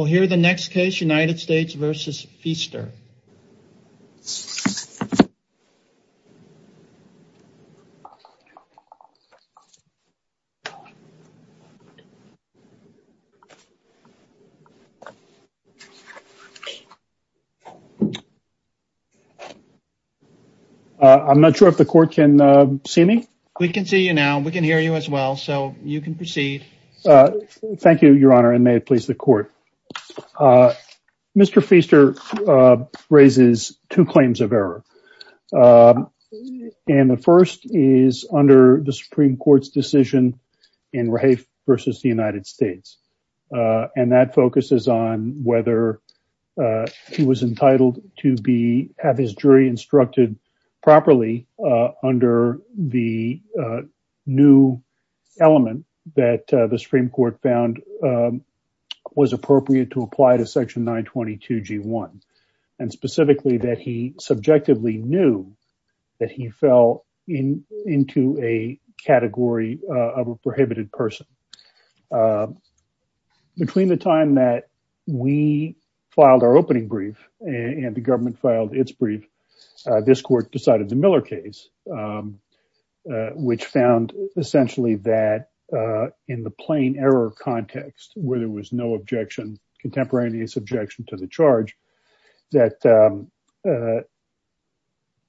We'll hear the next case, United States v. Feaster. I'm not sure if the court can see me. We can see you now. We can hear you as well, so you can proceed. Thank you, Your Honor, and may it please the court. Mr. Feaster raises two claims of error, and the first is under the Supreme Court's decision in Rafe v. the United States, and that focuses on whether he was entitled to have his jury instructed properly under the new element that the Supreme Court found was appropriate to apply to Section 922G1, and specifically that he subjectively knew that he fell into a category of a prohibited person. Between the time that we filed our opening brief and the government filed its brief, this court decided the Miller case, which found essentially that in the plain error context, where there was no objection, contemporaneous objection to the charge, that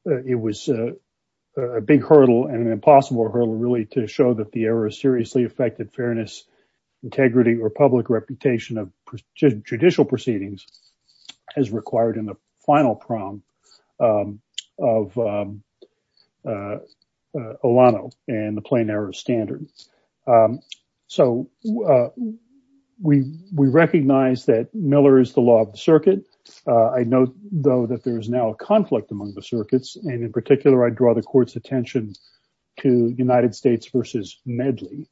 it was a big fairness, integrity, or public reputation of judicial proceedings as required in the final prong of Olano and the plain error standard. So, we recognize that Miller is the law of the circuit. I note, though, that there is now a conflict among the circuits, and in particular, I draw the court's attention to United States v. Medley,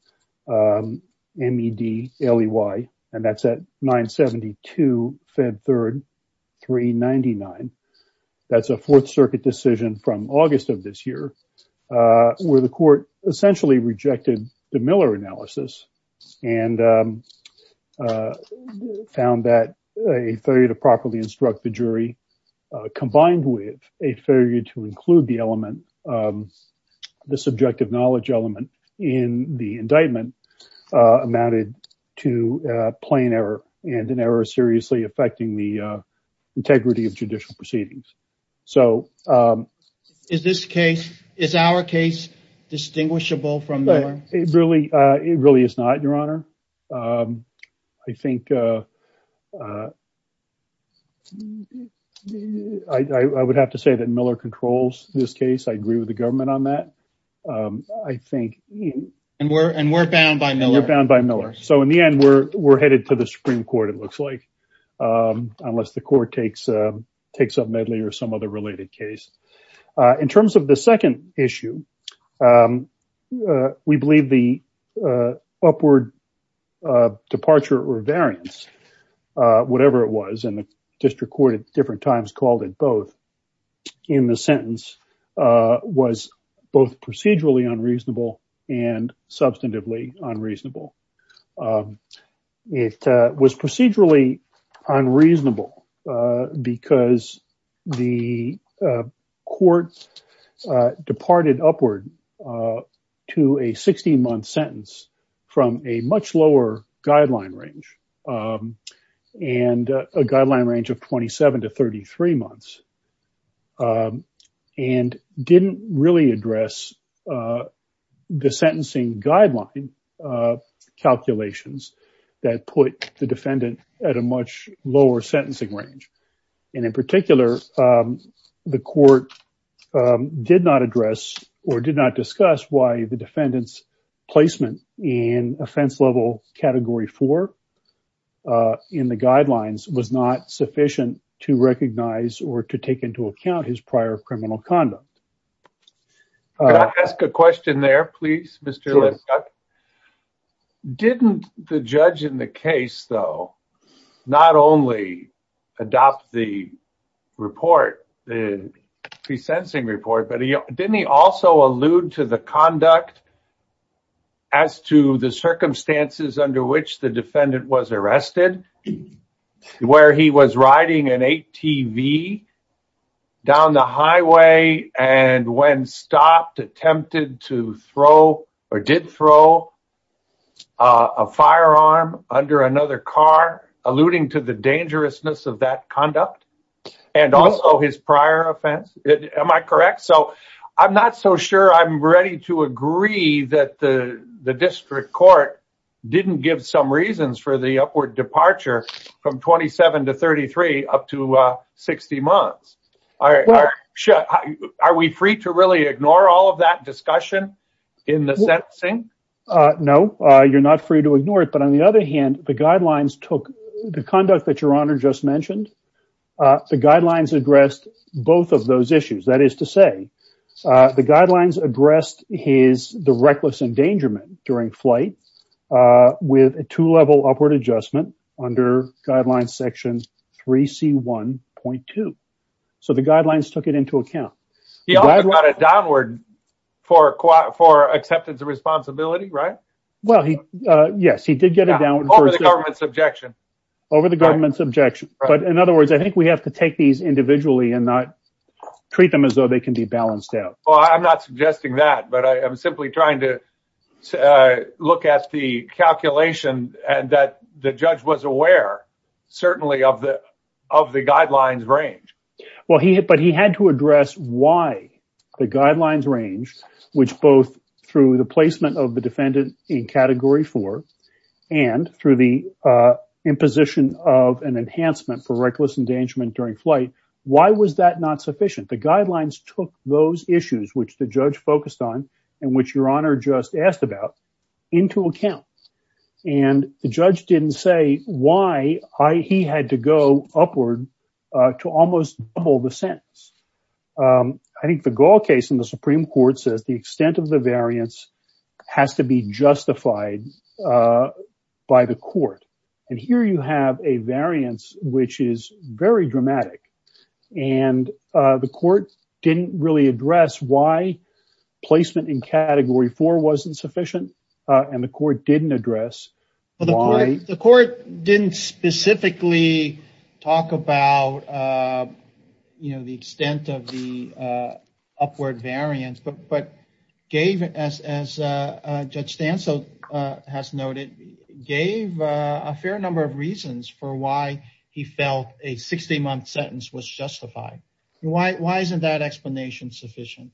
M-E-D-L-E-Y, and that's at 972 Fed 3, 399. That's a Fourth Circuit decision from August of this year, where the court essentially rejected the Miller analysis and found that a failure to properly instruct the jury, combined with a failure to include the element, the subjective knowledge element in the indictment, amounted to plain error, and an error seriously affecting the integrity of judicial proceedings. So... Is this case, is our case, distinguishable from Miller? It really is not, Your Honor. I think... I would have to say that Miller controls this case. I agree with the government on that. I think... And we're bound by Miller. We're bound by Miller. So, in the end, we're headed to the Supreme Court, it looks like, unless the court takes up Medley or some other related case. In terms of the second issue, we believe the upward departure or variance, whatever it was, and the district court at different times called it both, in the sentence, was both procedurally unreasonable and substantively unreasonable. It was procedurally unreasonable because the court departed upward to a 16-month sentence from a much lower guideline range, and a guideline range of 27 to 33 months, and didn't really address the sentencing guideline calculations that put the defendant at a much lower sentencing range. And in particular, the court did not address or did not discuss why the defendant's placement in offense level category four in the guidelines was not sufficient to recognize or to take into account his prior criminal conduct. Can I ask a question there, please, Mr. Lipschitz? Sure. Didn't the judge in the case, though, not only adopt the report, the pre-sensing report, but didn't he also allude to the conduct as to the circumstances under which the defendant was arrested, where he was riding an ATV down the highway, and when stopped, attempted to throw or did throw a firearm under another car, alluding to the dangerousness of that conduct, and also his prior offense? Am I correct? So I'm not so sure I'm ready to agree that the district court didn't give some reasons for the upward departure from 27 to 33 up to 60 months. Are we free to really ignore all of that discussion in the sentencing? No, you're not free to ignore it. But on the other hand, the guidelines took the conduct that Your Honor just mentioned, the guidelines addressed both of those issues. That is to say, the guidelines addressed the reckless endangerment during flight with a two-level upward adjustment under Guidelines Section 3C1.2. So the guidelines took it into account. He also got it downward for acceptance of responsibility, right? Well, yes, he did get it downward. Over the government's objection. Over the government's objection. But in other words, I think we have to take these individually and not treat them as though they can be balanced out. Well, I'm not suggesting that, but I'm simply trying to look at the calculation and that the judge was aware, certainly, of the guidelines range. Well, but he had to address why the guidelines range, which both through the placement of imposition of an enhancement for reckless endangerment during flight. Why was that not sufficient? The guidelines took those issues, which the judge focused on and which Your Honor just asked about, into account. And the judge didn't say why he had to go upward to almost double the sentence. I think the Gall case in the Supreme Court says the extent of the variance has to be justified by the court. And here you have a variance which is very dramatic. And the court didn't really address why placement in Category 4 wasn't sufficient. And the court didn't address why. The court didn't specifically talk about, you know, the extent of the upward variance. But gave, as Judge Stancil has noted, gave a fair number of reasons for why he felt a 60-month sentence was justified. Why isn't that explanation sufficient?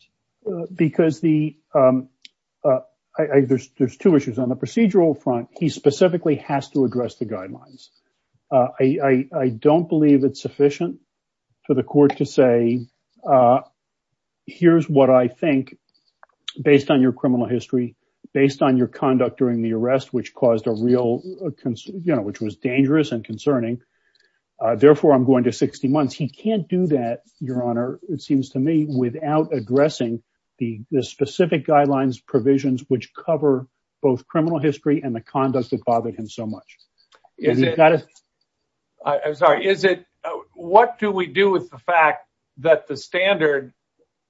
Because there's two issues. On the procedural front, he specifically has to address the guidelines. I don't believe it's sufficient for the court to say, here's what I think, based on your criminal history, based on your conduct during the arrest, which caused a real, you know, which was dangerous and concerning. Therefore, I'm going to 60 months. He can't do that, Your Honor, it seems to me, without addressing the specific guidelines, provisions which cover both criminal history and the conduct that bothered him so much. I'm sorry, is it, what do we do with the fact that the standard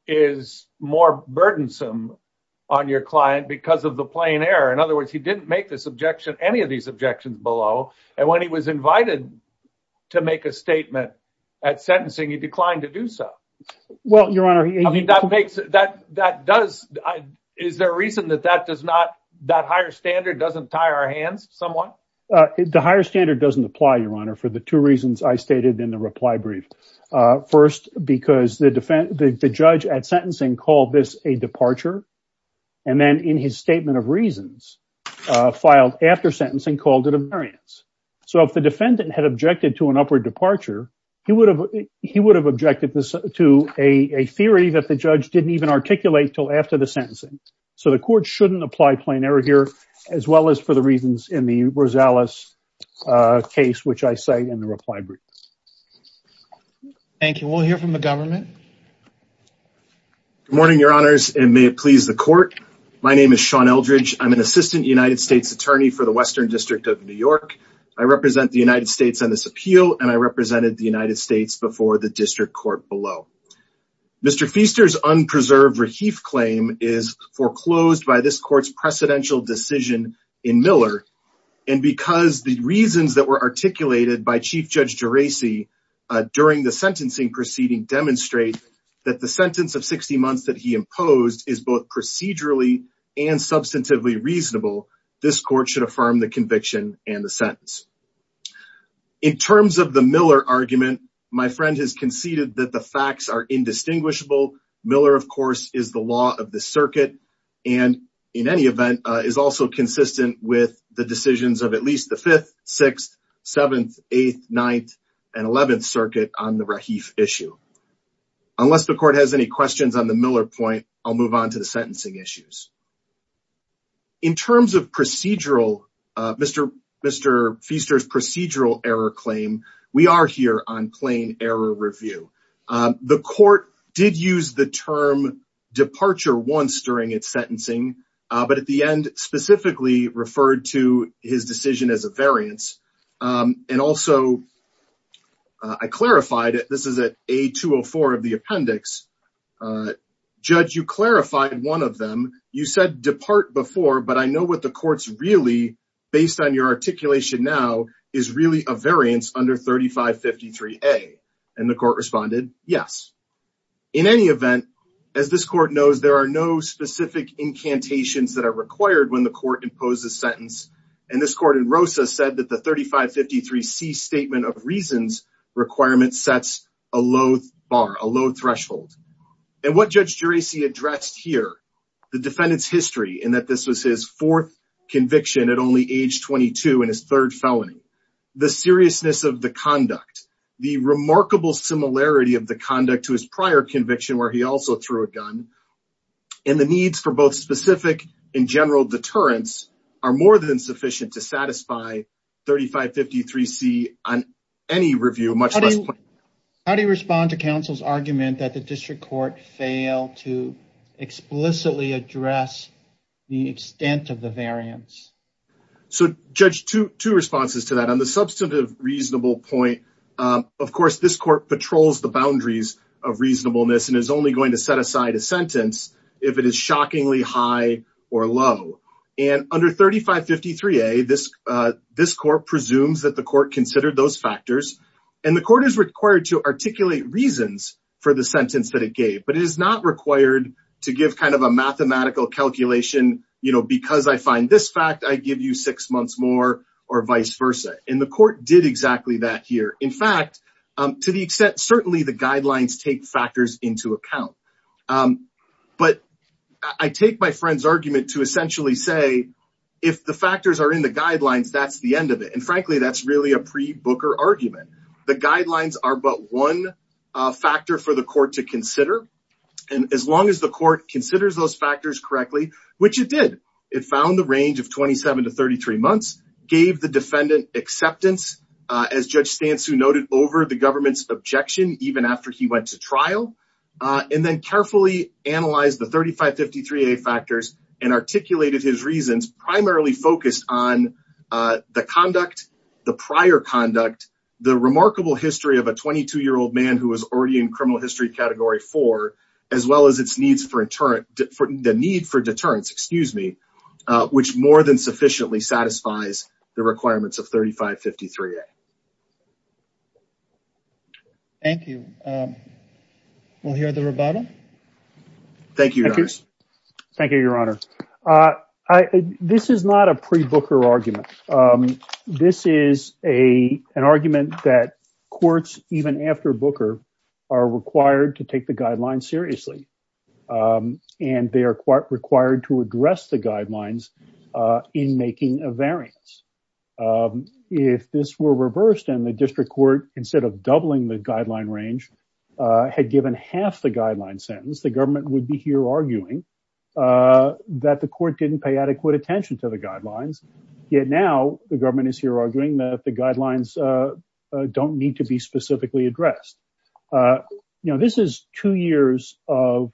is more burdensome on your client because of the plain error? In other words, he didn't make this objection, any of these objections below. And when he was invited to make a statement at sentencing, he declined to do so. Well, Your Honor. I mean, that makes, that does, is there a reason that that does not, that higher standard doesn't tie our hands somewhat? The higher standard doesn't apply, Your Honor, for the two reasons I stated in the reply brief. First, because the judge at sentencing called this a departure. And then in his statement of reasons, filed after sentencing, called it a variance. So if the defendant had objected to an upward departure, he would have objected to a theory that the judge didn't even articulate till after the sentencing. So the court shouldn't apply plain error here, as well as for the reasons in the Rosales case, which I say in the reply brief. Thank you. We'll hear from the government. Good morning, Your Honors, and may it please the court. My name is Sean Eldridge. I'm an assistant United States attorney for the Western District of New York. I represent the United States on this appeal, and I represented the United States before the district court below. Mr. Feaster's unpreserved reheif claim is foreclosed by this court's precedential decision in Miller. And because the reasons that were articulated by Chief Judge Geraci during the sentencing proceeding demonstrate that the sentence of 60 months that he imposed is both procedurally and substantively reasonable, this court should affirm the conviction and the sentence. In terms of the Miller argument, my friend has conceded that the facts are indistinguishable. Miller, of course, is the law of the circuit and, in any event, is also consistent with the decisions of at least the 5th, 6th, 7th, 8th, 9th, and 11th Circuit on the reheif issue. Unless the court has any questions on the Miller point, I'll move on to the sentencing issues. In terms of procedural, Mr. Feaster's procedural error claim, we are here on plain error review. The court did use the term departure once during its sentencing, but at the end specifically referred to his decision as a variance. And also, I clarified it. This is at A204 of the appendix. Judge, you clarified one of them. You said depart before, but I know what the court's really, based on your articulation now, is really a variance under 3553A. And the court responded, yes. In any event, as this court knows, there are no specific incantations that are required when the court imposes sentence. And this court in Rosa said that the 3553C statement of reasons requirement sets a low threshold. And what Judge Geraci addressed here, the defendant's history in that this was his fourth conviction at only age 22 in his third felony, the seriousness of the conduct, the remarkable similarity of the conduct to his prior conviction where he also threw a gun, and the needs for both specific and general deterrence are more than sufficient to satisfy 3553C on any review, much less plain error. How do you respond to counsel's argument that the district court failed to explicitly address the extent of the variance? So, Judge, two responses to that. On the substantive reasonable point, of course, this court patrols the boundaries of reasonableness and is only going to set aside a sentence if it is shockingly high or low. And under 3553A, this court presumes that the court considered those factors. And the court is required to articulate reasons for the sentence that it gave. But it is not required to give kind of a mathematical calculation, you know, because I find this fact, I give you six months more or vice versa. And the court did exactly that here. In fact, to the extent certainly the guidelines take factors into account. But I take my friend's argument to essentially say if the factors are in the guidelines, that's the end of it. And frankly, that's really a pre-Booker argument. The guidelines are but one factor for the court to consider. And as long as the court considers those factors correctly, which it did, it found the range of 27 to 33 months, gave the defendant acceptance, as Judge Stansu noted, over the government's objection even after he went to trial, and then carefully analyzed the 3553A factors and articulated his reasons primarily focused on the conduct, the prior conduct, the remarkable history of a 22-year-old man who was already in criminal history category four, as well as its needs for deterrent, the need for deterrence, excuse me, which more than sufficiently satisfies the requirements of 3553A. Thank you. Thank you, Your Honors. Thank you, Your Honor. This is not a pre-Booker argument. This is an argument that courts, even after Booker, are required to take the guidelines seriously. And they are required to address the guidelines in making a variance. If this were reversed and the district court, instead of doubling the guideline range, had given half the guideline sentence, the government would be here arguing that the court didn't pay adequate attention to the guidelines. Yet now, the government is here arguing that the guidelines don't need to be specifically addressed. You know, this is two years of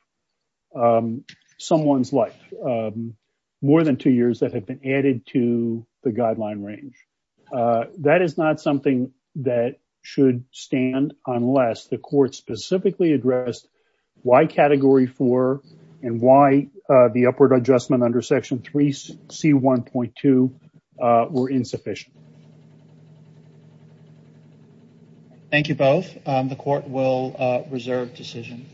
someone's life, more than two years that have been added to the guideline range. That is not something that should stand unless the court specifically addressed why category four and why the upward adjustment under section 3C1.2 were insufficient. Thank you both. The court will reserve decision.